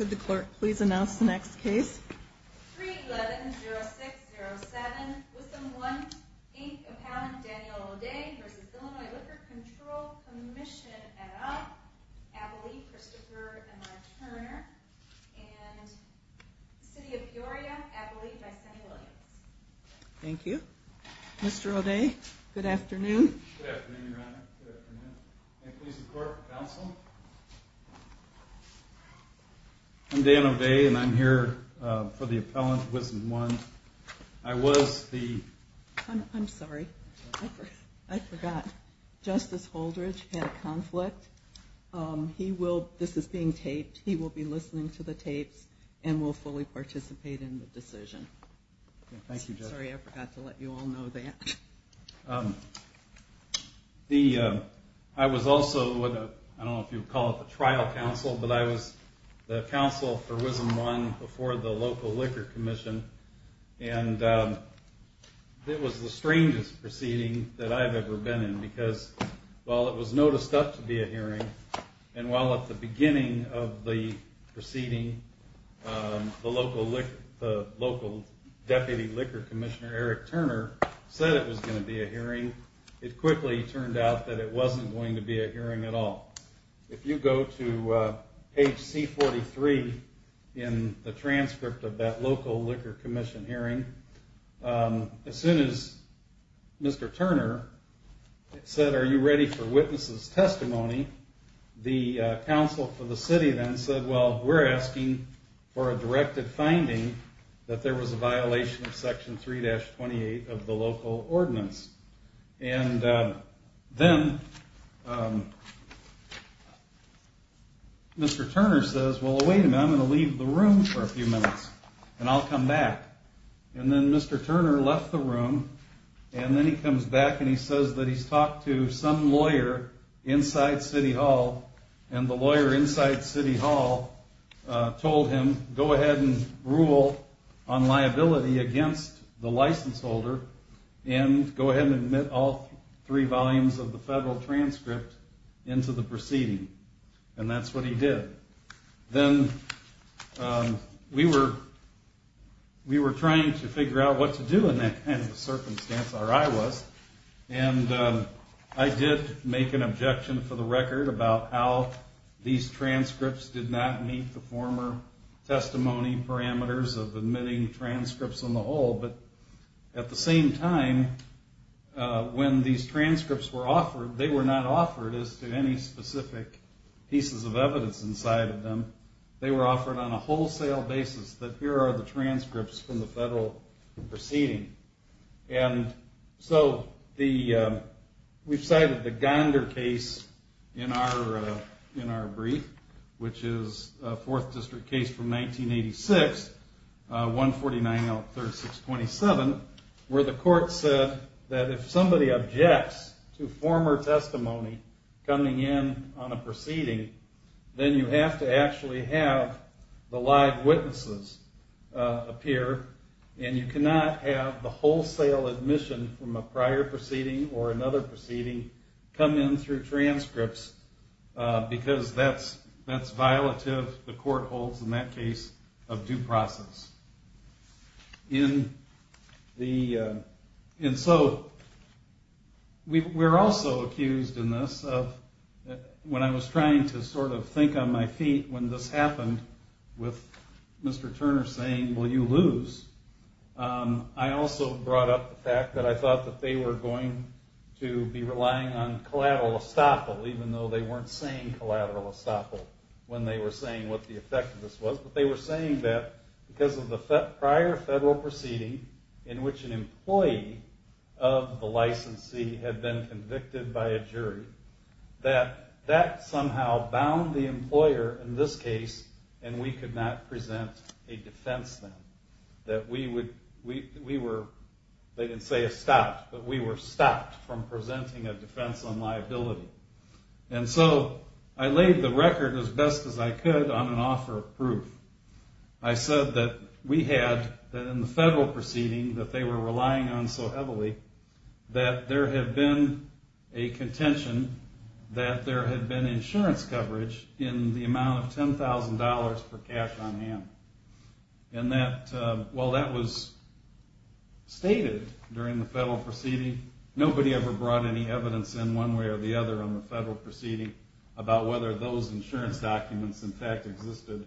311-0607 WISAM 1 Inc. Appellant Daniel O'Day v. Illinois Liquor Control Commission 311-0607 WISAM 1 Inc. Appellant Daniel O'Day I'm Daniel O'Day and I'm here for the appellant WISAM 1. I was the... I'm sorry. I forgot. Justice Holdridge had a conflict. This is being taped. He will be listening to the tapes and will fully participate in the decision. Thank you, Justice. Sorry, I forgot to let you all know that. I was also, I don't know if you would call it the trial counsel, but I was the counsel for WISAM 1 before the local liquor commission. And it was the strangest proceeding that I've ever been in because while it was noticed up to be a hearing and while at the beginning of the proceeding the local deputy liquor commissioner Eric Turner said it was going to be a hearing, it quickly turned out that it wasn't going to be a hearing at all. If you go to page C-43 in the transcript of that local liquor commission hearing, as soon as Mr. Turner said, are you ready for witnesses' testimony, the counsel for the city then said, well, we're asking for a directed finding that there was a violation of section 3-28 of the local ordinance. And then Mr. Turner says, well, wait a minute, I'm going to leave the room for a few minutes and I'll come back. And then Mr. Turner left the room and then he comes back and he says that he's talked to some lawyer inside City Hall and the lawyer inside City Hall told him, go ahead and rule on liability against the license holder and go ahead and leave the room. And he said, go ahead and admit all three volumes of the federal transcript into the proceeding. And that's what he did. Then we were trying to figure out what to do in that kind of circumstance, or I was, and I did make an objection for the record about how these transcripts did not meet the former testimony parameters of admitting transcripts on the whole. But at the same time, when these transcripts were offered, they were not offered as to any specific pieces of evidence inside of them. They were offered on a wholesale basis that here are the transcripts from the federal proceeding. And so we've cited the Gondar case in our brief, which is a 4th District case from 1986, 149-3627, where the court said that if somebody objects to former testimony coming in on a proceeding, then you have to actually have the live witnesses appear. And you cannot have the wholesale admission from a prior proceeding or another proceeding come in through transcripts, because that's violative, the court holds in that case, of due process. And so we're also accused in this of, when I was trying to sort of think on my feet when this happened, with Mr. Turner saying, well, you lose, I also brought up the fact that I thought that they were going to be relying on collateral estoppel, even though they weren't saying collateral estoppel when they were saying what the effect of this was. But they were saying that because of the prior federal proceeding in which an employee of the licensee had been convicted by a jury, that that somehow bound the employer in this case, and we could not present a defense then. They didn't say it stopped, but we were stopped from presenting a defense on liability. And so I laid the record as best as I could on an offer of proof. I said that we had, in the federal proceeding that they were relying on so heavily, that there had been a contention that there had been insurance coverage in the amount of $10,000 per cash on hand. And that, while that was stated during the federal proceeding, nobody ever brought any evidence in one way or the other on the federal proceeding about whether those insurance documents in fact existed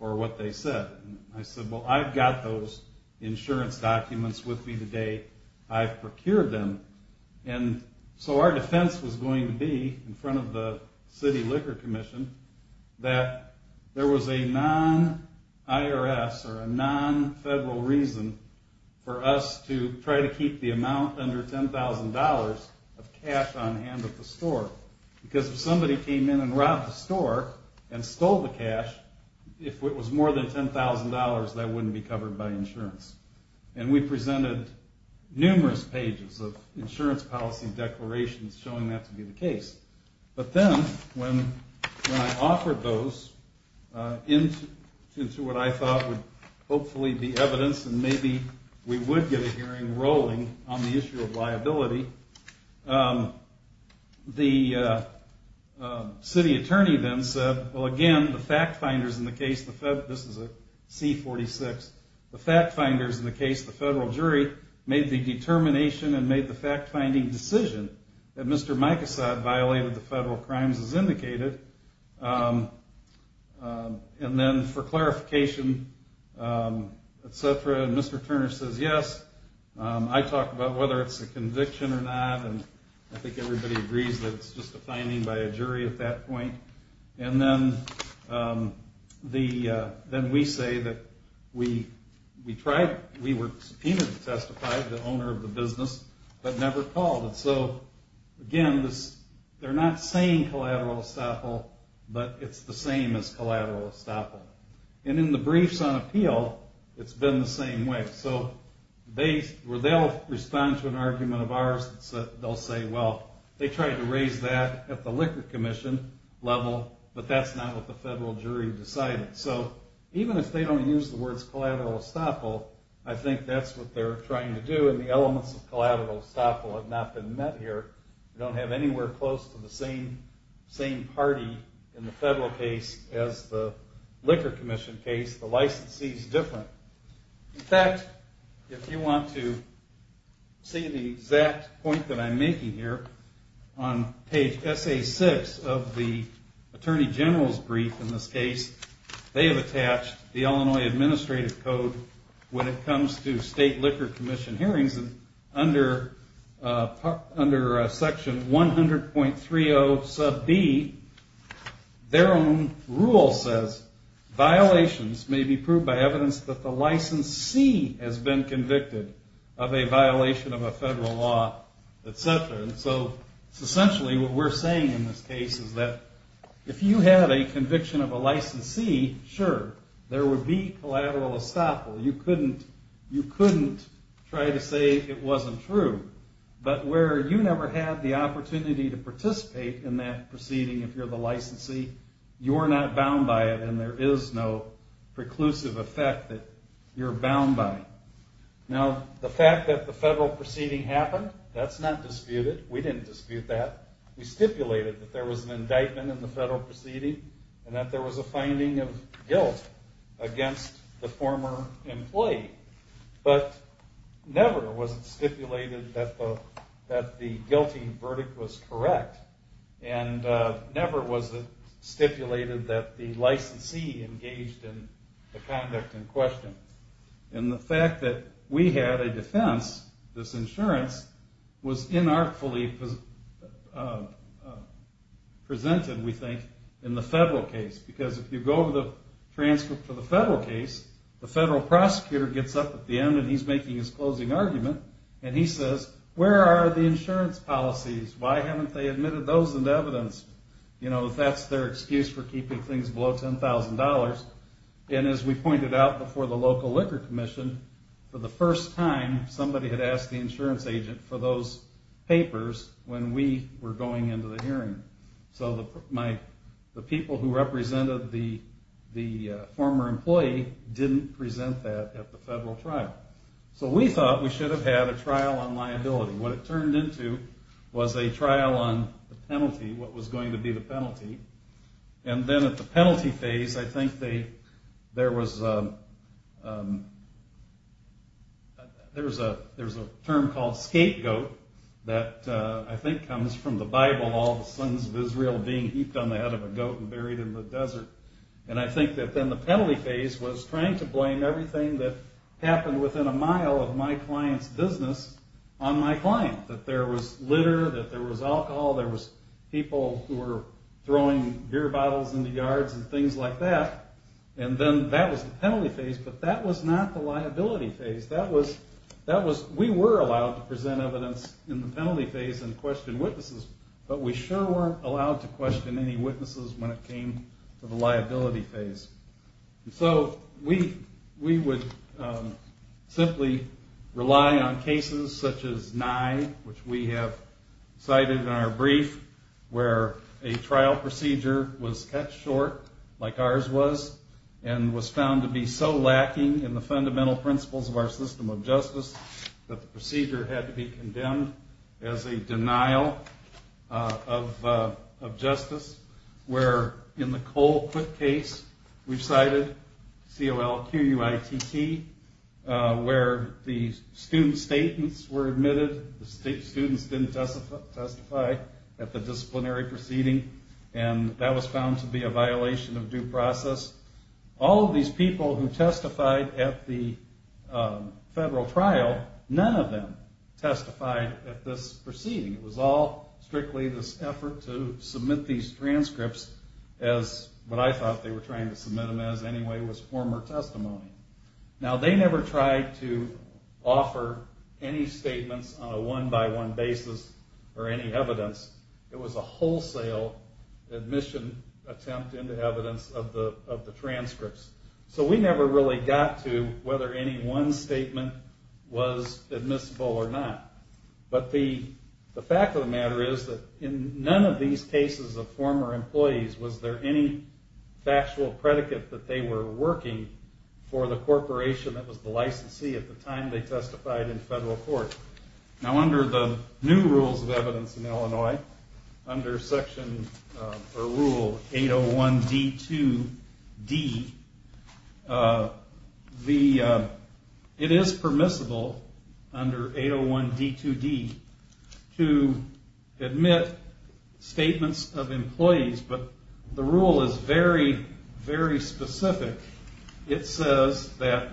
or what they said. And I said, well, I've got those insurance documents with me today. I've procured them. And so our defense was going to be, in front of the City Liquor Commission, that there was a non-IRS or a non-federal reason for us to try to keep the amount under $10,000 of cash on hand at the store. Because if somebody came in and robbed the store and stole the cash, if it was more than $10,000, that wouldn't be covered by insurance. And we presented numerous pages of insurance policy declarations showing that to be the case. But then, when I offered those into what I thought would hopefully be evidence, and maybe we would get a hearing rolling on the issue of liability, the city attorney then said, well, again, the fact finders in the case, this is a C-46. The fact finders in the case, the federal jury, made the determination and made the fact-finding decision that Mr. Micasod violated the federal crimes as indicated. And then, for clarification, Mr. Turner says yes. I talked about whether it's a conviction or not, and I think everybody agrees that it's just a finding by a jury at that point. And then we say that we tried, we were subpoenaed to testify, the owner of the business, but never called. And so, again, they're not saying collateral estoppel, but it's the same as collateral estoppel. And in the briefs on appeal, it's been the same way. So, where they'll respond to an argument of ours, they'll say, well, they tried to raise that at the Liquor Commission level, but that's not what the federal jury decided. So, even if they don't use the words collateral estoppel, I think that's what they're trying to do, and the elements of collateral estoppel have not been met here. We don't have anywhere close to the same party in the federal case as the Liquor Commission case. The licensee's different. In fact, if you want to see the exact point that I'm making here, on page SA6 of the Attorney General's brief in this case, they have attached the Illinois Administrative Code when it comes to state Liquor Commission hearings. And under section 100.30 sub B, their own rule says, violations may be proved by evidence that the licensee has been convicted of a violation of a federal law, etc. And so, essentially what we're saying in this case is that if you had a conviction of a licensee, sure, there would be collateral estoppel. You couldn't try to say it wasn't true. But where you never had the opportunity to participate in that proceeding if you're the licensee, you're not bound by it, and there is no preclusive effect that you're bound by. Now, the fact that the federal proceeding happened, that's not disputed. We didn't dispute that. We stipulated that there was an indictment in the federal proceeding, and that there was a finding of guilt against the former employee. But never was it stipulated that the guilty verdict was correct, and never was it stipulated that the licensee engaged in the conduct in question. And the fact that we had a defense, this insurance, was inartfully presented, we think, in the federal case. Because if you go over the transcript for the federal case, the federal prosecutor gets up at the end and he's making his closing argument, and he says, where are the insurance policies? Why haven't they admitted those into evidence? You know, if that's their excuse for keeping things below $10,000. And as we pointed out before the local liquor commission, for the first time, somebody had asked the insurance agent for those papers when we were going into the hearing. So the people who represented the former employee didn't present that at the federal trial. So we thought we should have had a trial on liability. What it turned into was a trial on the penalty, what was going to be the penalty. And then at the penalty phase, I think there was a term called scapegoat that I think comes from the Bible, all the sons of Israel being heaped on the head of a goat and buried in the desert. And I think that then the penalty phase was trying to blame everything that happened within a mile of my client's business on my client. That there was litter, that there was alcohol, there was people who were throwing beer bottles into yards and things like that. And then that was the penalty phase, but that was not the liability phase. We were allowed to present evidence in the penalty phase and question witnesses, but we sure weren't allowed to question any witnesses when it came to the liability phase. So we would simply rely on cases such as Nye, which we have cited in our brief, where a trial procedure was cut short, like ours was, and was found to be so lacking in the fundamental principles of our system of justice that the procedure had to be condemned as a denial of justice. Where in the Cole Quick case we've cited, C-O-L-Q-U-I-T-T, where the student statements were admitted, the students didn't testify at the disciplinary proceeding, and that was found to be a violation of due process. All of these people who testified at the federal trial, none of them testified at this proceeding. It was all strictly this effort to submit these transcripts as what I thought they were trying to submit them as anyway was former testimony. Now they never tried to offer any statements on a one-by-one basis or any evidence. It was a wholesale admission attempt into evidence of the transcripts. So we never really got to whether any one statement was admissible or not. But the fact of the matter is that in none of these cases of former employees was there any factual predicate that they were working for the corporation that was the licensee at the time they testified in federal court. Now under the new rules of evidence in Illinois, under rule 801-D-2-D, it is permissible under 801-D-2-D to admit statements of employees, but the rule is very, very specific. It says that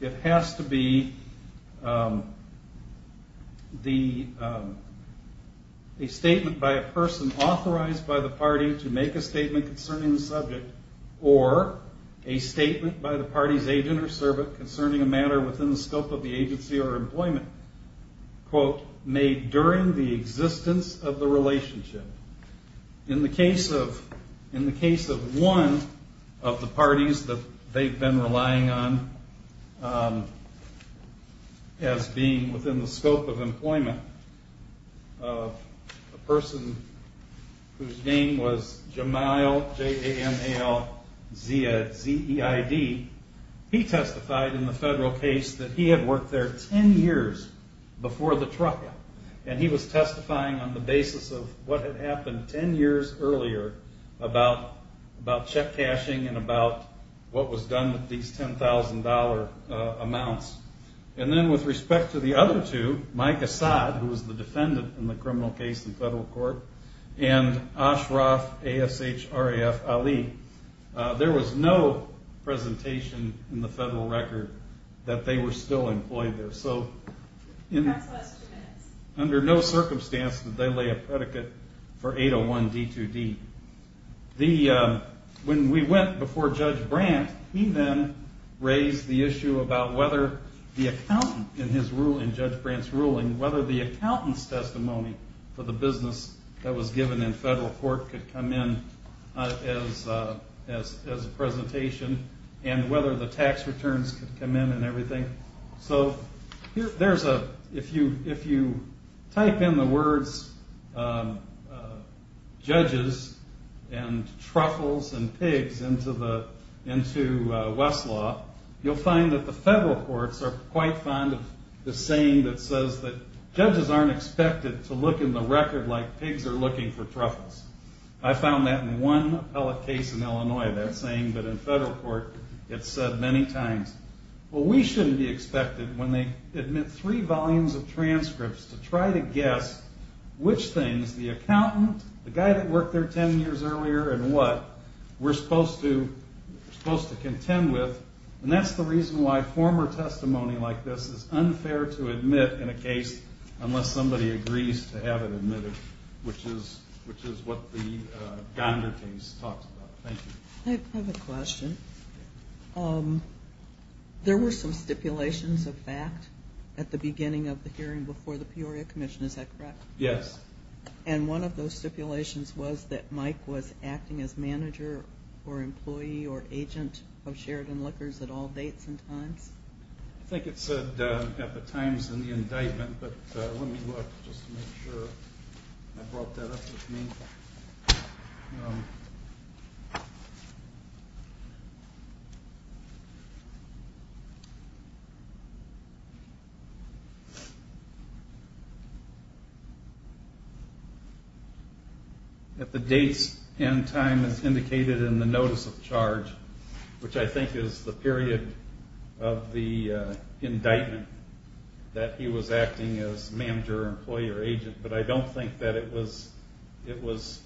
it has to be a statement by a person authorized by the party to make a statement concerning the subject or a statement by the party's agent or servant concerning a matter within the scope of the agency or employment. Quote, made during the existence of the relationship. In the case of one of the parties that they've been relying on as being within the scope of employment, a person whose name was Jamal, J-A-M-A-L-Z-E-I-D, he testified in the federal case that he had worked there 10 years before the trucker. And he was testifying on the basis of what had happened 10 years earlier about check cashing and about what was done with these $10,000 amounts. And then with respect to the other two, Mike Asad, who was the defendant in the criminal case in federal court, and Ashraf Ali, there was no presentation in the federal record that they were still employed there. So under no circumstance did they lay a predicate for 801D2D. When we went before Judge Brandt, he then raised the issue about whether the accountant in Judge Brandt's ruling, whether the accountant's testimony for the business that was given in federal court could come in as a presentation and whether the tax returns could come in and everything. So if you type in the words judges and truffles and pigs into Westlaw, you'll find that the federal courts are quite fond of the saying that says that judges aren't expected to look in the record like pigs are looking for truffles. I found that in one appellate case in Illinois, that saying, but in federal court it's said many times. Well, we shouldn't be expected when they admit three volumes of transcripts to try to guess which things the accountant, the guy that worked there 10 years earlier, and what we're supposed to contend with. And that's the reason why former testimony like this is unfair to admit in a case unless somebody agrees to have it admitted, which is what the Gondar case talks about. Thank you. I have a question. There were some stipulations of fact at the beginning of the hearing before the Peoria Commission, is that correct? Yes. And one of those stipulations was that Mike was acting as manager or employee or agent of Sheridan Liquors at all dates and times? I think it said at the times in the indictment, but let me look just to make sure I brought that up with me. At the dates and time as indicated in the notice of charge, which I think is the period of the indictment, that he was acting as manager, employee, or agent. But I don't think that it was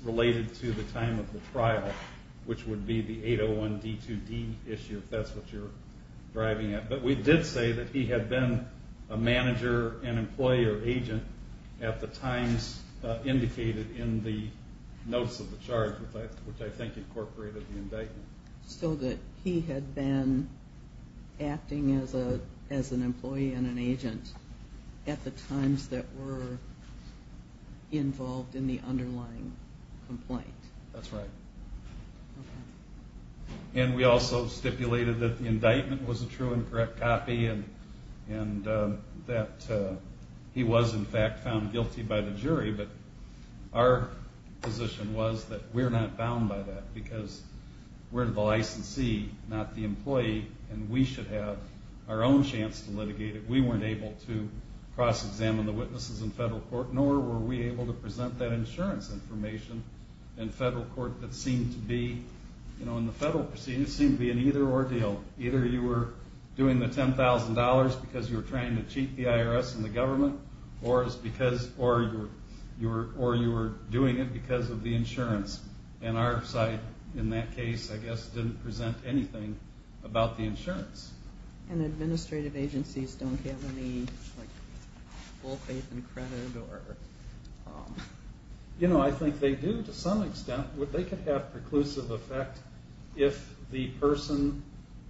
related to the time of the trial, which would be the 801 D2D issue, if that's what you're driving at. But we did say that he had been a manager, an employee, or agent at the times indicated in the notice of the charge, which I think incorporated the indictment. So that he had been acting as an employee and an agent at the times that were involved in the underlying complaint? That's right. And we also stipulated that the indictment was a true and correct copy and that he was, in fact, found guilty by the jury. But our position was that we're not bound by that because we're the licensee, not the employee, and we should have our own chance to litigate it. We weren't able to cross-examine the witnesses in federal court, nor were we able to present that insurance information in federal court that seemed to be, in the federal proceedings, seemed to be an either or deal. Either you were doing the $10,000 because you were trying to cheat the IRS and the government, or you were doing it because of the insurance. And our side, in that case, I guess, didn't present anything about the insurance. And administrative agencies don't have any full faith and credit? I think they do to some extent. They could have preclusive effect if the person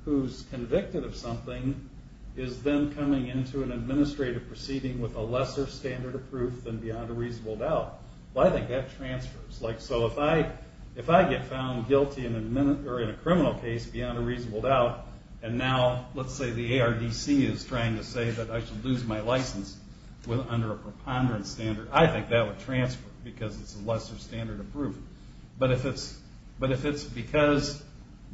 who's convicted of something is then coming into an administrative proceeding with a lesser standard of proof than beyond a reasonable doubt. Well, I think that transfers. So if I get found guilty in a criminal case beyond a reasonable doubt, and now, let's say the ARDC is trying to say that I should lose my license under a preponderance standard, I think that would transfer because it's a lesser standard of proof. But if it's because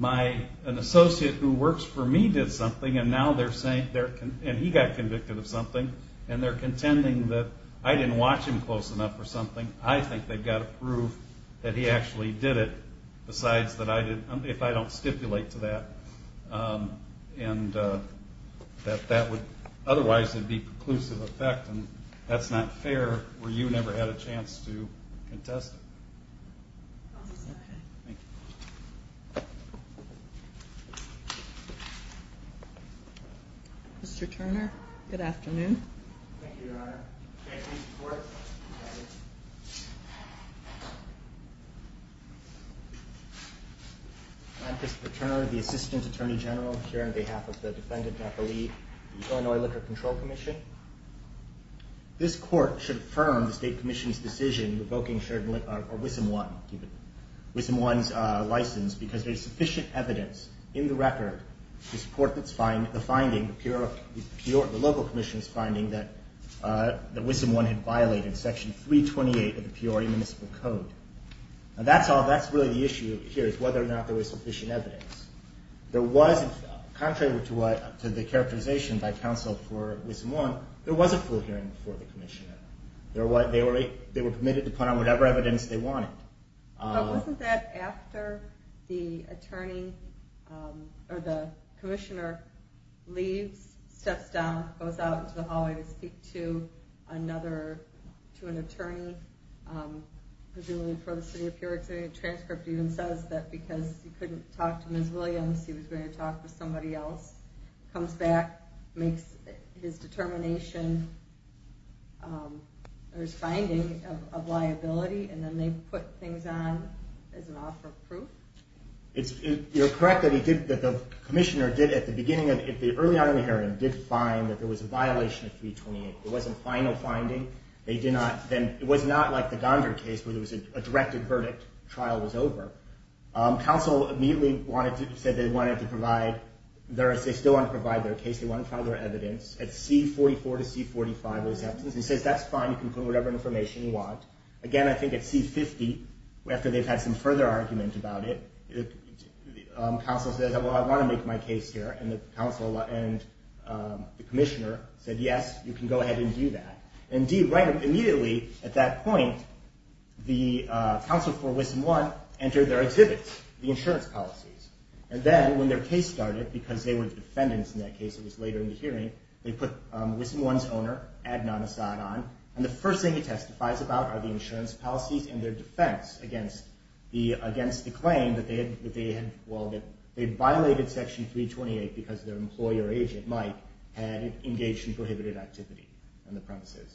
an associate who works for me did something, and he got convicted of something, and they're contending that I didn't watch him close enough or something, I think that transfers. I think they've got to prove that he actually did it, if I don't stipulate to that. Otherwise, it would be preclusive effect, and that's not fair where you never had a chance to contest it. Thank you. Mr. Turner, good afternoon. Thank you, Your Honor. I'm Christopher Turner, the Assistant Attorney General here on behalf of the defendant, Natalie, Illinois Liquor Control Commission. This Court should affirm the State Commission's decision revoking Wissam 1's license because there's sufficient evidence in the record to support the finding, the local commission's finding, that Wissam 1 had violated Section 328 of the Peoria Municipal Code. That's really the issue here, is whether or not there was sufficient evidence. Contrary to the characterization by counsel for Wissam 1, there was a full hearing for the commissioner. They were permitted to put on whatever evidence they wanted. But wasn't that after the attorney, or the commissioner, leaves, steps down, goes out into the hallway to speak to another, to an attorney, presumably for the City of Peoria. The transcript even says that because he couldn't talk to Ms. Williams, he was going to talk to somebody else. Comes back, makes his determination, or his finding of liability, and then they put things on as an offer of proof. You're correct that the commissioner did, at the beginning, early on in the hearing, did find that there was a violation of 328. It wasn't final finding. It was not like the Gondar case where there was a directed verdict, trial was over. Counsel immediately said they wanted to provide, they still wanted to provide their case, they wanted to provide their evidence. At C44 to C45, it was evidence. He says, that's fine, you can put whatever information you want. Again, I think at C50, after they've had some further argument about it, counsel says, well, I want to make my case here. And the counsel and the commissioner said, yes, you can go ahead and do that. Indeed, right immediately at that point, the counsel for Wissom 1 entered their exhibits, the insurance policies. And then when their case started, because they were defendants in that case, it was later in the hearing, they put Wissom 1's owner, Adnan Asad, on. And the first thing he testifies about are the insurance policies and their defense against the claim that they had, well, they had violated section 328 because their employer agent, Mike, had engaged in prohibited activity on the premises.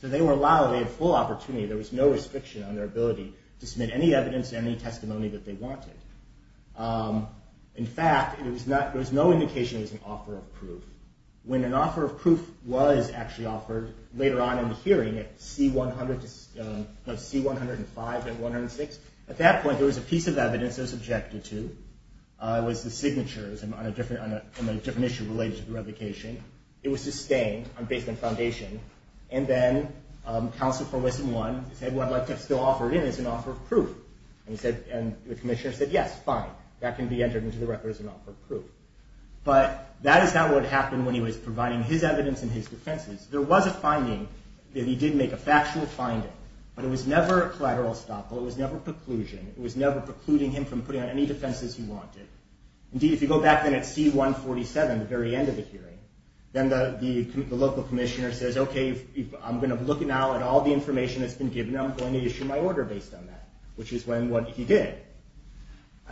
So they were allowed, they had full opportunity, there was no restriction on their ability to submit any evidence, any testimony that they wanted. In fact, there was no indication it was an offer of proof. When an offer of proof was actually offered later on in the hearing at C105 to C106, at that point, there was a piece of evidence that was objected to. It was the signatures on a different issue related to the revocation. It was sustained based on foundation. And then counsel for Wissom 1 said, well, I'd like to still offer it in as an offer of proof. And the commissioner said, yes, fine, that can be entered into the record as an offer of proof. But that is not what happened when he was providing his evidence and his defenses. There was a finding that he did make a factual finding, but it was never a collateral estoppel. It was never preclusion. It was never precluding him from putting on any defenses he wanted. Indeed, if you go back then at C147, the very end of the hearing, then the local commissioner says, okay, I'm going to look now at all the information that's been given. I'm going to issue my order based on that, which is what he did.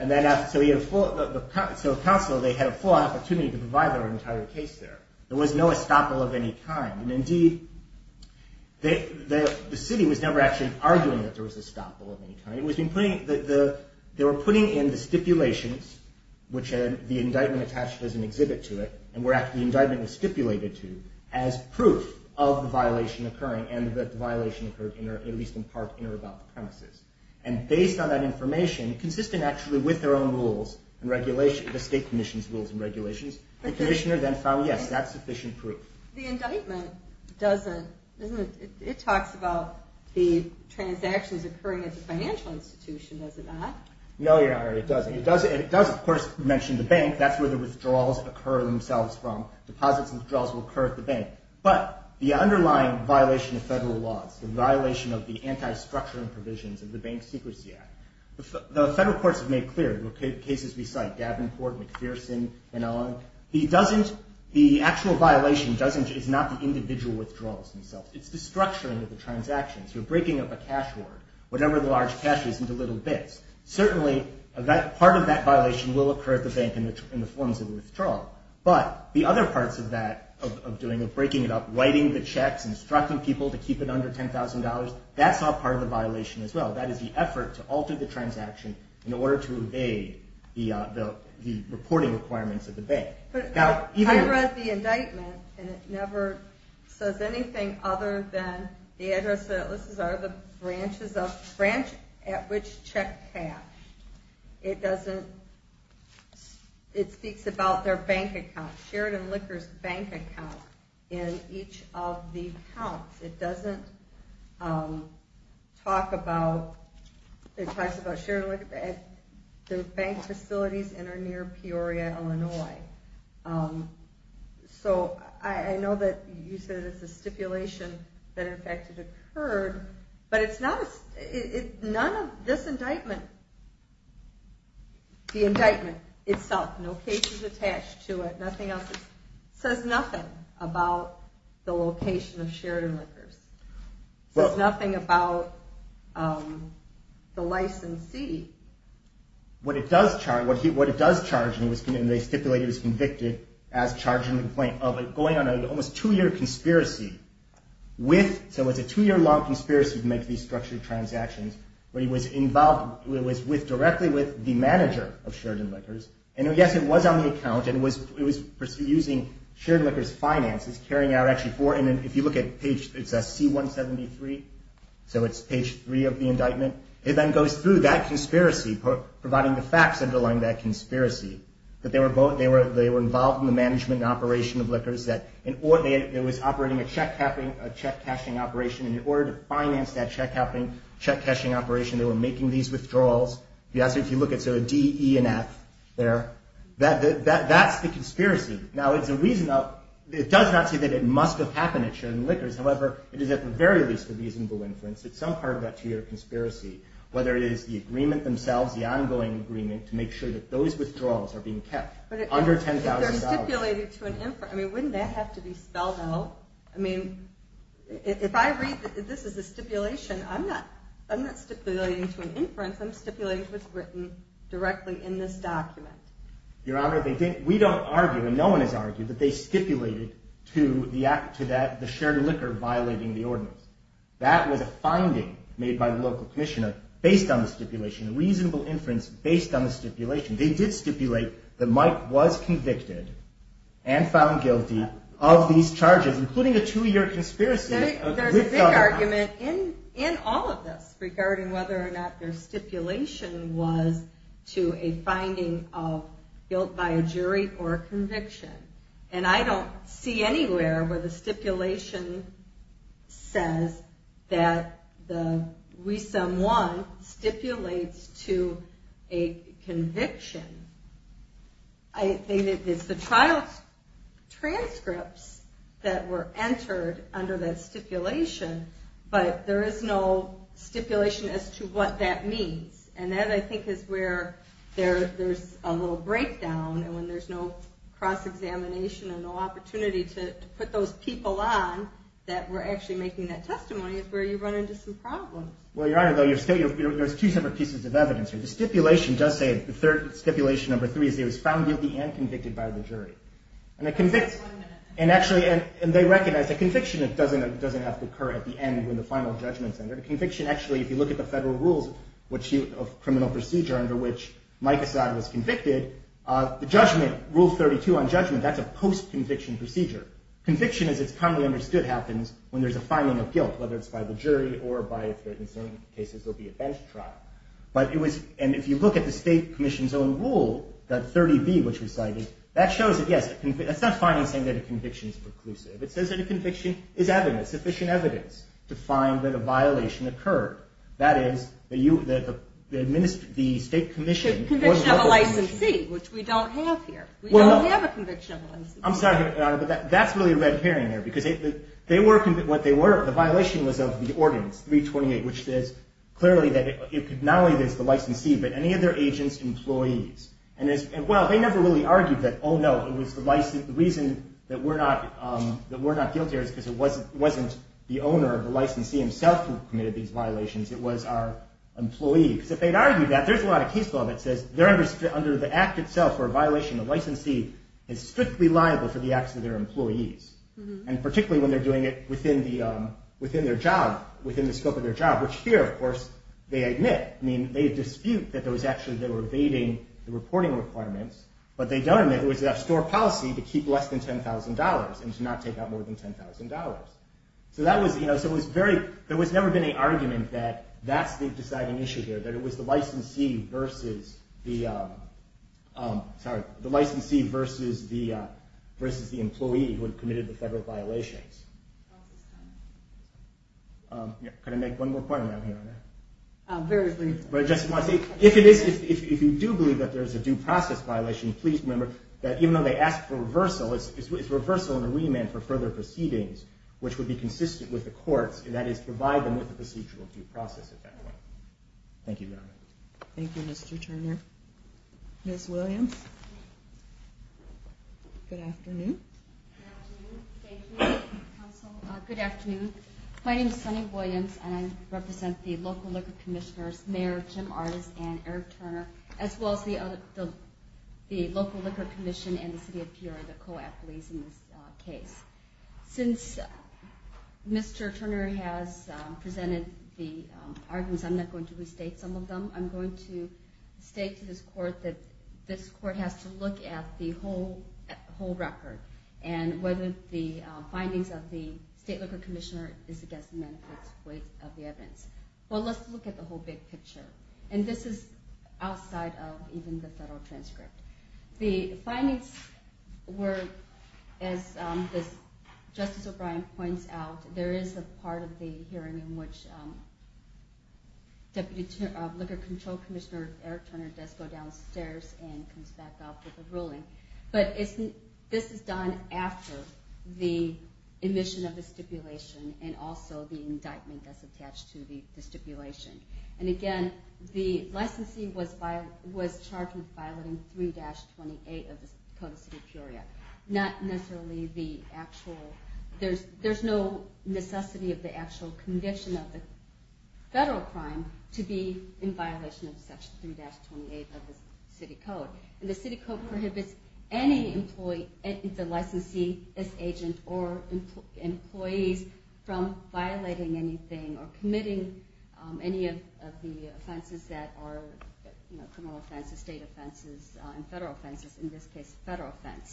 So counsel, they had a full opportunity to provide their entire case there. There was no estoppel of any kind. And indeed, the city was never actually arguing that there was estoppel of any kind. They were putting in the stipulations, which had the indictment attached as an exhibit to it, and where the indictment was stipulated to, as proof of the violation occurring and that the violation occurred, at least in part, in or about the premises. And based on that information, consistent actually with their own rules and regulations, the state commission's rules and regulations, the commissioner then found, yes, that's sufficient proof. The indictment doesn't, it talks about the transactions occurring at the financial institution, does it not? No, Your Honor, it doesn't. It does, of course, mention the bank. That's where the withdrawals occur themselves from. Deposits and withdrawals will occur at the bank. But the underlying violation of federal laws, the violation of the anti-structuring provisions of the Bank Secrecy Act, the federal courts have made clear, the cases we cite, Davenport, McPherson, and on, the actual violation is not the individual withdrawals themselves. It's the structuring of the transactions. You're breaking up a cash hoard, whatever the large cash is, into little bits. Certainly, part of that violation will occur at the bank in the forms of withdrawal. But the other parts of that, of breaking it up, writing the checks, instructing people to keep it under $10,000, that's all part of the violation as well. That is the effort to alter the transaction in order to evade the reporting requirements of the bank. I read the indictment and it never says anything other than the address, this is out of the branches of, branch at which check cash. It doesn't, it speaks about their bank account, Sheridan Liquor's bank account in each of the counts. It doesn't talk about, it talks about Sheridan Liquor, the bank facilities that are near Peoria, Illinois. So I know that you said it's a stipulation that in fact, it occurred, but it's not, none of this indictment, the indictment itself, no cases attached to it, nothing else. It says nothing about the location of Sheridan Liquors. It says nothing about the licensee. What it does charge, what it does charge, and they stipulate it was convicted as charging a complaint, of going on an almost two-year conspiracy with, so it's a two-year long conspiracy to make these structured transactions, where he was involved, it was with, directly with the manager of Sheridan Liquors, and yes, it was on the account, and it was using Sheridan Liquors finances, carrying out actually four, and if you look at page, it's C173, so it's page three of the indictment. It then goes through that conspiracy, providing the facts underlying that conspiracy, that they were involved in the management and operation of liquors, that there was operating a check cashing operation, and in order to finance that check cashing operation, they were making these withdrawals. If you look at D, E, and F there, that's the conspiracy. Now, it does not say that it must have happened at Sheridan Liquors, however, it is at the very least a reasonable inference. It's some part of that two-year conspiracy, whether it is the agreement themselves, the ongoing agreement, to make sure that those withdrawals are being kept under $10,000. But if they're stipulated to an inference, I mean, wouldn't that have to be spelled out? I mean, if I read that this is a stipulation, I'm not stipulating to an inference, I'm stipulating to what's written directly in this document. Your Honor, we don't argue, and no one has argued, that they stipulated to the Sheridan Liquor violating the ordinance. That was a finding made by the local commissioner based on the stipulation, a reasonable inference based on the stipulation. They did stipulate that Mike was convicted and found guilty of these charges, including a two-year conspiracy. There's a big argument in all of this regarding whether or not their stipulation was to a finding of guilt by a jury or a conviction. And I don't see anywhere where the stipulation says that the WSUM 1 stipulates to a conviction. I think it's the trial transcripts that were entered under that stipulation, but there is no stipulation as to what that means. And that, I think, is where there's a little breakdown, and when there's no cross-examination and no opportunity to put those people on that were actually making that testimony is where you run into some problems. Well, Your Honor, there's two separate pieces of evidence here. The third stipulation, number three, is that he was found guilty and convicted by the jury. And they recognize that conviction doesn't have to occur at the end when the final judgment is entered. Conviction, actually, if you look at the federal rules of criminal procedure under which Mike Assad was convicted, the judgment, Rule 32 on judgment, that's a post-conviction procedure. Conviction, as it's commonly understood, happens when there's a finding of guilt, whether it's by the jury or by, in some cases, there'll be a bench trial. And if you look at the State Commission's own rule, that 30B, which we cited, that shows that, yes, that's not a finding saying that a conviction is preclusive. It says that a conviction is evidence, sufficient evidence, to find that a violation occurred. That is, the State Commission... The conviction of a licensee, which we don't have here. We don't have a conviction of a licensee. I'm sorry, Your Honor, but that's really a red herring there, because they were, the violation was of the ordinance, 328, which says clearly that it could not only be a violation of the ordinance, the licensee, but any of their agents, employees. And, well, they never really argued that, oh, no, it was the reason that we're not guilty here is because it wasn't the owner of the licensee himself who committed these violations, it was our employee. Because if they'd argued that, there's a lot of case law that says, under the act itself for a violation of the licensee is strictly liable for the acts of their employees. And particularly when they're doing it within their job, within the scope of their job, which here, of course, they admit. They dispute that there was actually, they were evading the reporting requirements, but they don't admit it was a store policy to keep less than $10,000 and to not take out more than $10,000. So that was, you know, so it was very, there was never been any argument that that's the deciding issue here, that it was the licensee versus the... Sorry, the licensee versus the employee who had committed the federal violations. Could I make one more point around here on that? Very briefly. If you do believe that there's a due process violation, please remember that even though they asked for reversal, it's reversal and a remand for further proceedings, which would be consistent with the courts, and that is provide them with a procedural due process. Thank you very much. Thank you, Mr. Turner. Ms. Williams? Good afternoon. Good afternoon. Thank you, counsel. Good afternoon. My name is Sunny Williams, and I represent the local liquor commissioners, Mayor Jim Artis and Eric Turner, as well as the local liquor commission and the city of Peoria, the co-employees in this case. Since Mr. Turner has been here, I'm going to state to this court that this court has to look at the whole record and whether the findings of the state liquor commissioner is against the benefits of the evidence. Well, let's look at the whole big picture, and this is outside of even the federal transcript. The findings were, as Justice O'Brien points out, there is a part of the hearing in which the liquor control commissioner, Eric Turner, does go downstairs and comes back up with a ruling. But this is done after the admission of the stipulation and also the indictment that's attached to the stipulation. And again, the licensee was charged with violating 3-28 of the Code of City of Peoria. Not necessarily the actual, there's no necessity of the actual conviction of the federal crime to be considered to be in violation of Section 3-28 of the City Code. And the City Code prohibits any employee, the licensee, this agent, or employees from violating anything or committing any of the offenses that are criminal offenses, state offenses, and federal offenses, in this case federal offense.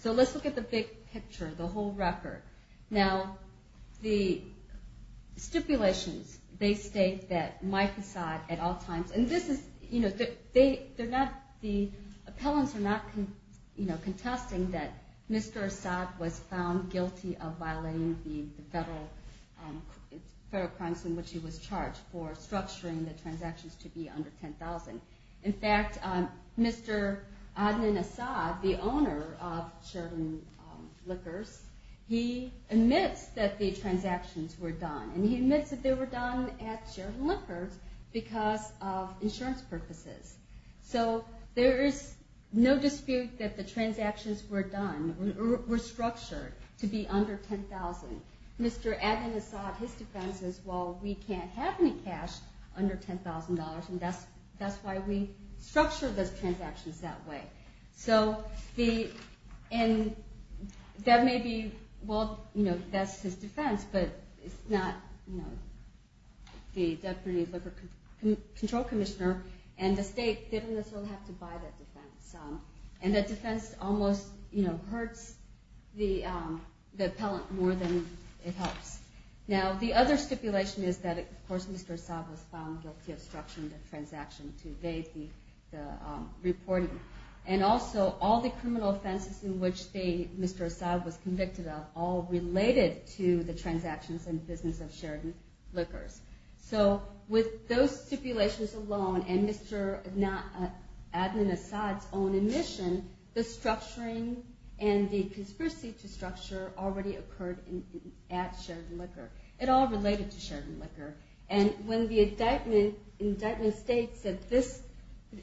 So let's look at the big picture, the whole record. Now, the stipulations, they state that Mike Assad, at all times, and this is, you know, the appellants are not contesting that Mr. Assad was found guilty of violating the federal crimes in which he was charged for structuring the transactions to be under $10,000. In fact, Mr. Adnan Assad, the owner of Sheridan Liquors, he admits that the transactions were done. And he admits that they were done at Sheridan Liquors because of insurance purposes. So there is no dispute that the transactions were done, were structured to be under $10,000. Mr. Adnan Assad, his defense is, well, we can't have any cash under $10,000 and that's why we structured those transactions that way. So that may be, well, you know, that's his defense, but it's not, you know, the Deputy Liquor Control Commissioner and the state didn't necessarily have to buy that defense. And that defense almost, you know, hurts the appellant more than it helps. Now, the other stipulation is that, of course, Mr. Assad was found guilty of structuring the transaction to evade the reporting. And also, all the criminal offenses in which Mr. Assad was convicted of all related to the transactions in the business of Sheridan Liquors. So with those stipulations alone and Mr. Adnan Assad's own admission, the structuring and the conspiracy to structure already occurred at Sheridan Liquor. It all related to Sheridan Liquor. And when the indictment states that this,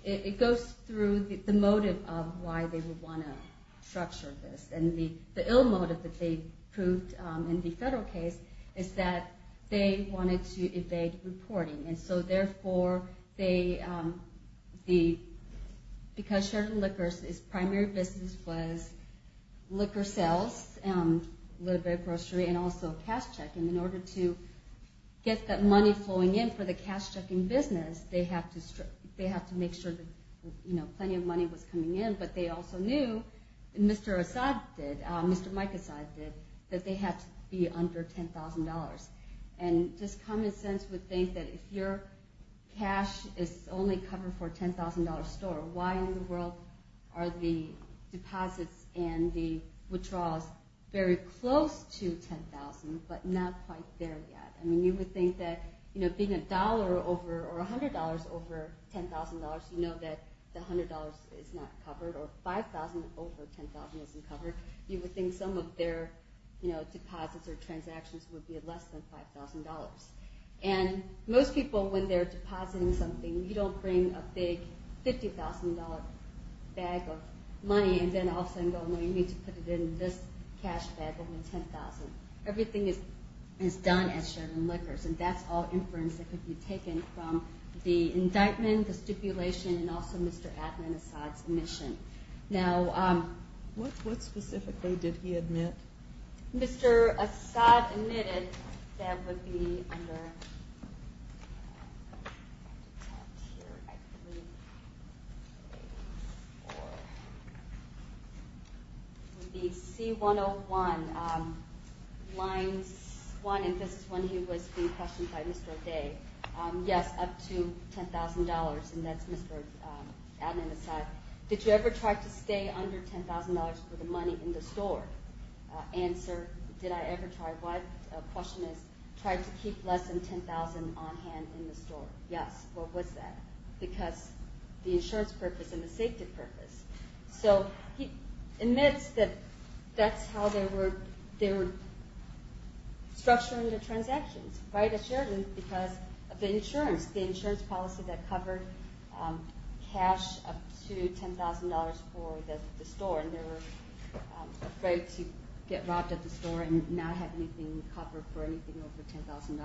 it goes through the motive of why they would want to structure this. And the ill motive that they proved in the federal case is that they wanted to evade reporting. And so therefore, because Sheridan Liquors' primary business was liquor sales, a little bit of grocery, and also cash checking, in order to get that money flowing in for the cash checking business, they have to make sure that, you know, plenty of money was coming in. But they also knew, and Mr. Assad did, Mr. Mike Assad did, that they had to be under $10,000. And just common sense would think that if your cash is only covered for a $10,000 store, why in the world are the deposits and the withdrawals very close to $10,000, but not quite there yet? I mean, you would think that, you know, being $1 over, or $100 over $10,000, you know that the $100 is not covered or not covered. Or $5,000 over $10,000 isn't covered, you would think some of their, you know, deposits or transactions would be at less than $5,000. And most people, when they're depositing something, you don't bring a big $50,000 bag of money and then all of a sudden go, no, you need to put it in this cash bag over $10,000. Everything is done at Sheridan Liquors, and that's all inference that could be taken from the indictment, the stipulation, and also Mr. Adnan Asad's admission. What specifically did he admit? Mr. Asad admitted that would be under C101, line 1, and this is when he was being questioned by Mr. O'Day, yes, up to $10,000, and that's Mr. Adnan Asad. Did you ever try to stay under $10,000 for the money in the store? Answer, did I ever try? The question is, try to keep less than $10,000 on hand in the store. Yes, what was that? Because the insurance purpose and the safety purpose. So he admits that that's how they were structuring the transactions at Sheridan because of the insurance, the insurance policy that covered cash up to $10,000 for the store, and they were afraid to get robbed at the store and not have anything covered for anything over $10,000.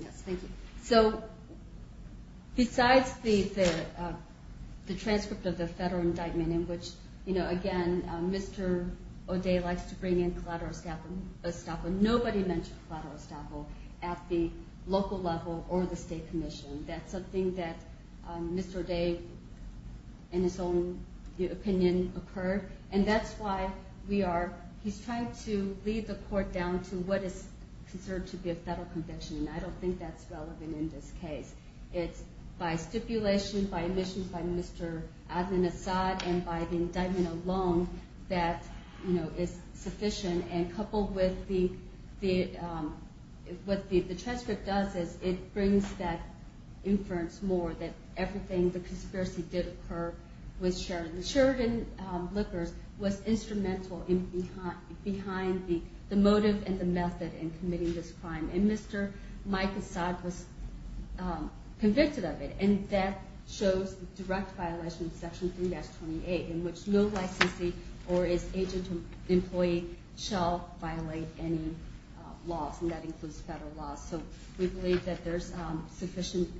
Yes, thank you. So besides the transcript of the federal indictment in which, again, Mr. O'Day likes to bring in collateral estoppel, nobody mentioned collateral estoppel at the local level or the state commission. That's something that Mr. O'Day, in his own opinion, occurred, and that's why we are, he's trying to lead the court down to what is considered to be a federal conviction, and I don't think that's relevant in this case. It's by stipulation, by admission by Mr. Adnan Asad and by the indictment alone that is sufficient, and coupled with what the transcript does is it brings that inference more, that everything, the conspiracy did occur with Sheridan. Sheridan Liquors was instrumental behind the motive and the method in committing this crime, and Mr. Mike Asad was convicted of it, and that shows the direct violation of Section 3-28 in which no licensee or his agent or employee shall violate any laws, and that includes federal laws. So we believe that there's sufficient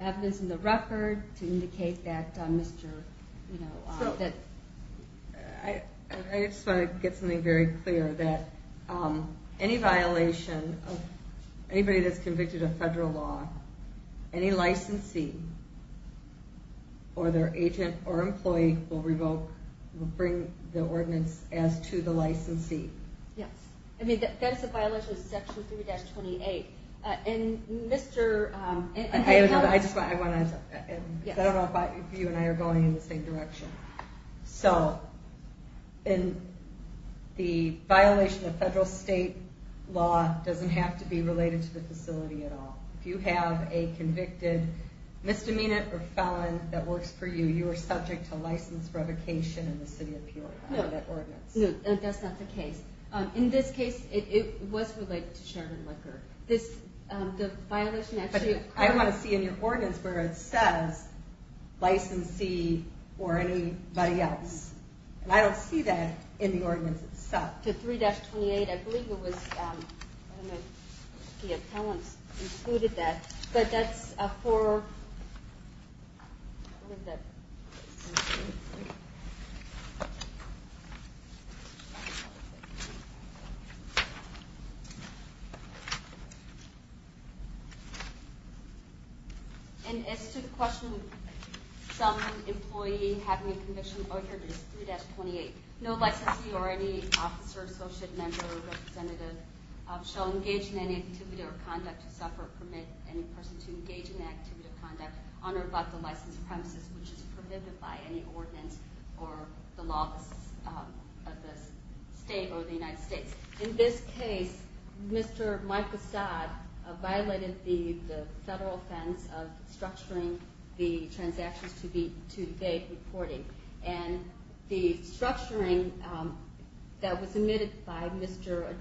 evidence in the record to indicate that Mr. Asad, I just want to get something very clear, that any violation of anybody that's convicted of federal law, any licensee or their agent or employee will bring the ordinance as to the licensee. Yes, I mean that's a violation of Section 3-28. I don't know if you and I are going in the same direction. So the violation of federal state law doesn't have to be related to the facility at all. If you have a convicted misdemeanor or felon that works for you, you are subject to license revocation in the City of Peoria under that ordinance. No, that's not the case. In this case, it was related to Sheridan Liquor. But I want to see in your ordinance where it says licensee or anybody else, and I don't see that in the ordinance itself. To 3-28, I believe the appellant included that, but that's for... And as to the question of some employee having a conviction, here it is, 3-28, no licensee or any officer, associate, member, or representative shall engage in any activity or conduct to suffer or permit any person to engage in any activity or conduct on or about the licensed premises which is prohibited by any ordinance or the law of the state or the United States. In this case, Mr. Mike Asad violated the federal offense of structuring the transactions to date reporting. And the structuring that was submitted by Mr.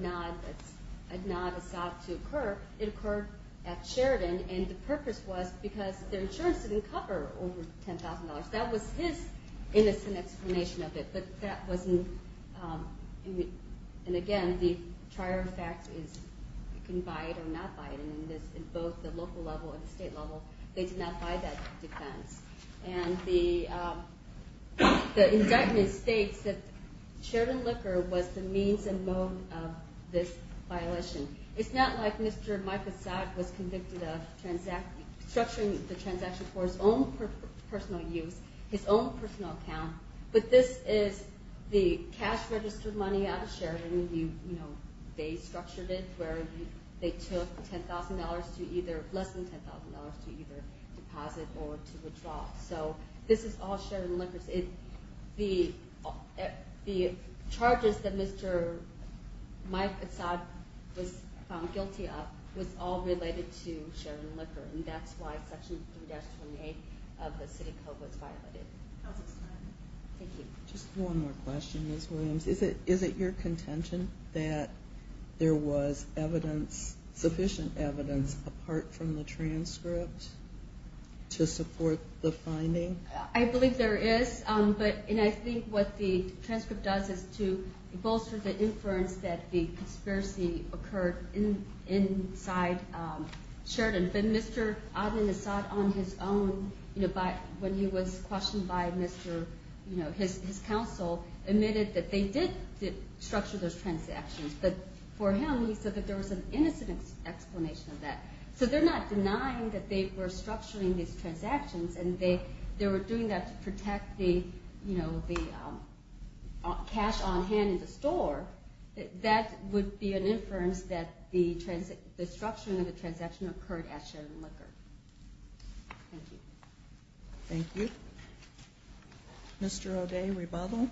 Adnad Asad to occur, it occurred at Sheridan, and the purpose was because their insurance didn't cover over $10,000. That was his innocent explanation of it, but that wasn't... And again, the trier of facts is you can buy it or not buy it, and in both the local level and the state level, they did not buy that defense. And the indictment states that Sheridan Liquor was the means and mode of this violation. It's not like Mr. Mike Asad was convicted of structuring the transaction for his own personal use, his own personal account, but this is the cash registered money out of Sheridan. They structured it where they took $10,000 to either... So this is all Sheridan Liquor. The charges that Mr. Mike Asad was found guilty of was all related to Sheridan Liquor, and that's why Section 3-28 of the city code was violated. Just one more question, Ms. Williams. Is it your contention that there was sufficient evidence apart from the transcript to support the finding? I believe there is, and I think what the transcript does is to bolster the inference that the conspiracy occurred inside Sheridan. But Mr. Adnan Asad on his own, when he was questioned by his counsel, admitted that they did structure those transactions, but for him he said that there was an innocent explanation of that. So they're not denying that they were structuring these transactions and they were doing that to protect the cash on hand in the store. That would be an inference that the structuring of the transaction occurred at Sheridan Liquor. Thank you. Mr. O'Day, rebuttal.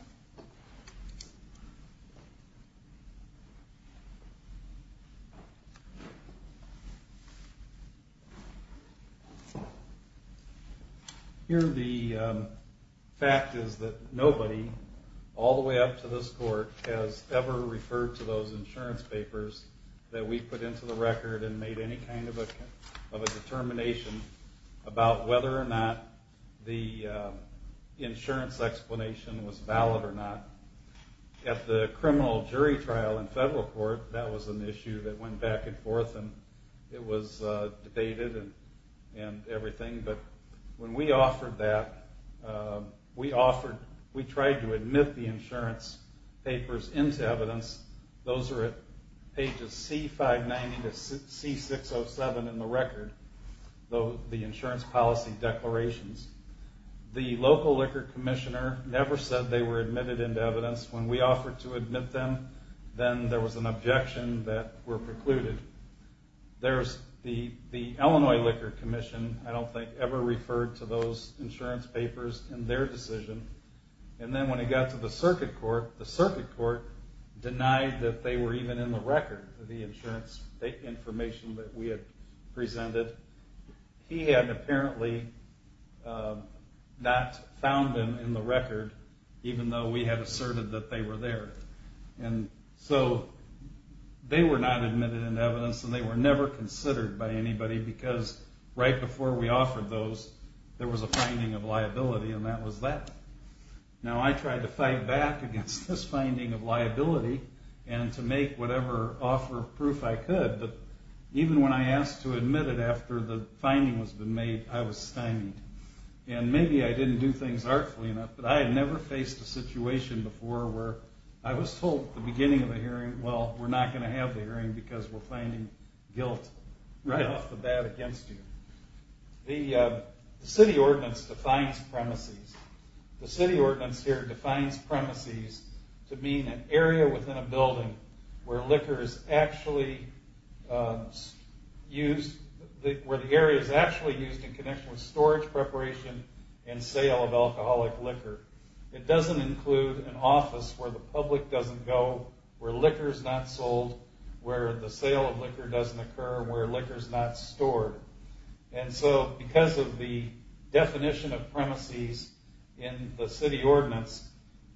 Here the fact is that nobody all the way up to this court has ever referred to those insurance papers that we put into the record and made any kind of a determination about whether or not the insurance explanation was valid or not. At the criminal jury trial in federal court, that was an issue that went back and forth, and it was debated and everything, but when we offered that, we tried to admit the insurance papers into evidence. Those are at pages C590 to C607 in the record, the insurance policy declarations. The local liquor commissioner never said they were admitted into evidence. When we offered to admit them, then there was an objection that were precluded. The Illinois Liquor Commission, I don't think, ever referred to those insurance papers in their decision, and then when it got to the circuit court, the circuit court denied that they were even in the record, the insurance information that we had presented. He had apparently not found them in the record, even though we had asserted that they were there. So they were not admitted into evidence, and they were never considered by anybody, because right before we offered those, there was a finding of liability, and that was that. Now, I tried to fight back against this finding of liability and to make whatever offer of proof I could, but even when I asked to admit it after the finding was made, I was stymied. Maybe I didn't do things artfully enough, but I had never faced a situation before where I was told at the beginning of the hearing, well, we're not going to have the hearing because we're finding guilt right off the bat against you. The city ordinance defines premises. The city ordinance here defines premises to mean an area within a building where liquor is actually used, where the area is actually used in connection with storage preparation and sale of alcoholic liquor. It doesn't include an office where the public doesn't go, where liquor is not sold, where the sale of liquor doesn't occur, where liquor is not stored. Because of the definition of premises in the city ordinance,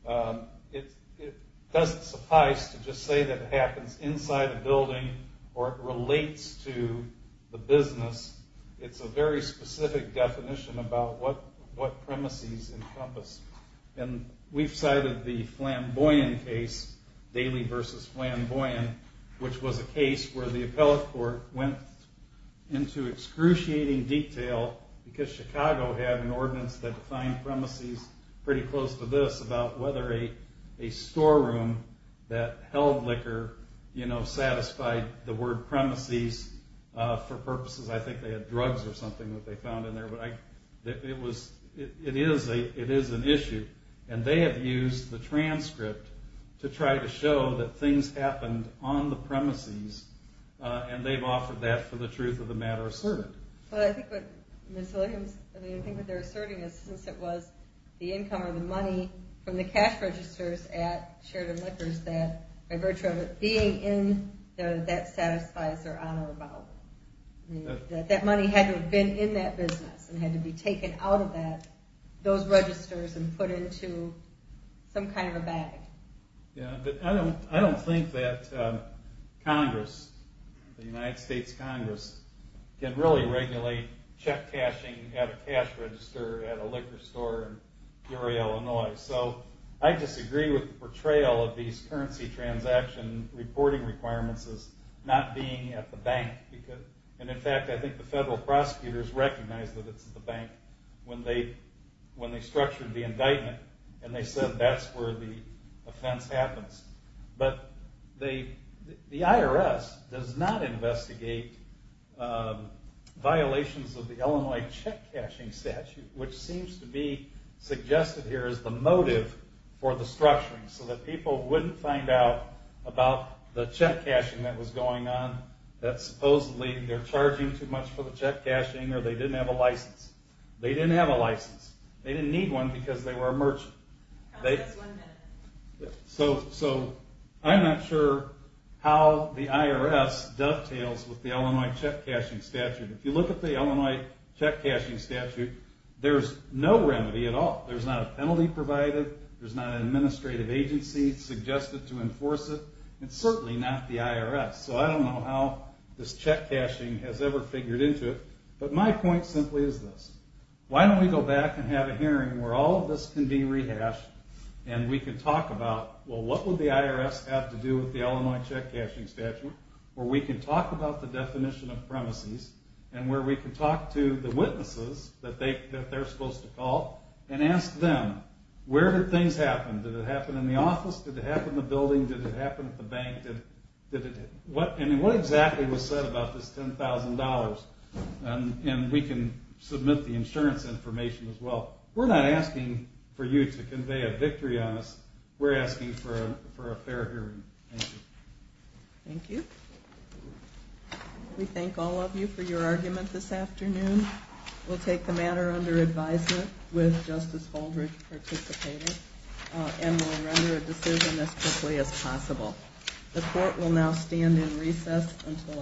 it doesn't suffice to just say that it happens inside a building or it relates to the business. It's a very specific definition about what premises encompass. We've cited the Flamboyant case, Daly v. Flamboyant, which was a case where the appellate court went into excruciating detail, because Chicago had an ordinance that defined premises pretty close to this, about whether a storeroom that held liquor satisfied the word premises for purposes. I think they had drugs or something that they found in there. It is an issue, and they have used the transcript to try to show that things happened on the premises, and they've offered that for the truth of the matter asserted. I think what they're asserting is since it was the income or the money from the cash registers at Sheridan Liquors that by virtue of it being in there, that satisfies their honor about it. That money had to have been in that business, and had to be taken out of those registers and put into some kind of a bag. I don't think that Congress, the United States Congress, can really regulate check cashing at a cash register at a liquor store in Peoria, Illinois. I disagree with the portrayal of these currency transaction reporting requirements as not being at the bank. In fact, I think the federal prosecutors recognized that it's at the bank when they structured the indictment, and they said that's where the offense happens. The IRS does not investigate violations of the Illinois check cashing statute, which seems to be suggested here as the motive for the structuring, so that people wouldn't find out about the check cashing that was going on, that supposedly they're charging too much for the check cashing or they didn't have a license. They didn't have a license. They didn't need one because they were a merchant. I'm not sure how the IRS dovetails with the Illinois check cashing statute. If you look at the Illinois check cashing statute, there's no remedy at all. There's not a penalty provided. There's not an administrative agency suggested to enforce it, and certainly not the IRS, so I don't know how this check cashing has ever figured into it, but my point simply is this. Why don't we go back and have a hearing where all of this can be rehashed and we can talk about, well, what would the IRS have to do with the Illinois check cashing statute, where we can talk about the definition of premises and where we can talk to the witnesses that they're supposed to call and ask them, where did things happen? Did it happen in the office? Did it happen in the building? Did it happen at the bank? What exactly was said about this $10,000? We can submit the insurance information as well. We're not asking for you to convey a victory on us. We're asking for a fair hearing. Thank you. Thank you. We thank all of you for your argument this afternoon. We'll take the matter under advisement with Justice Baldrige participating, and we'll render a decision as quickly as possible. The court will now stand in recess until October.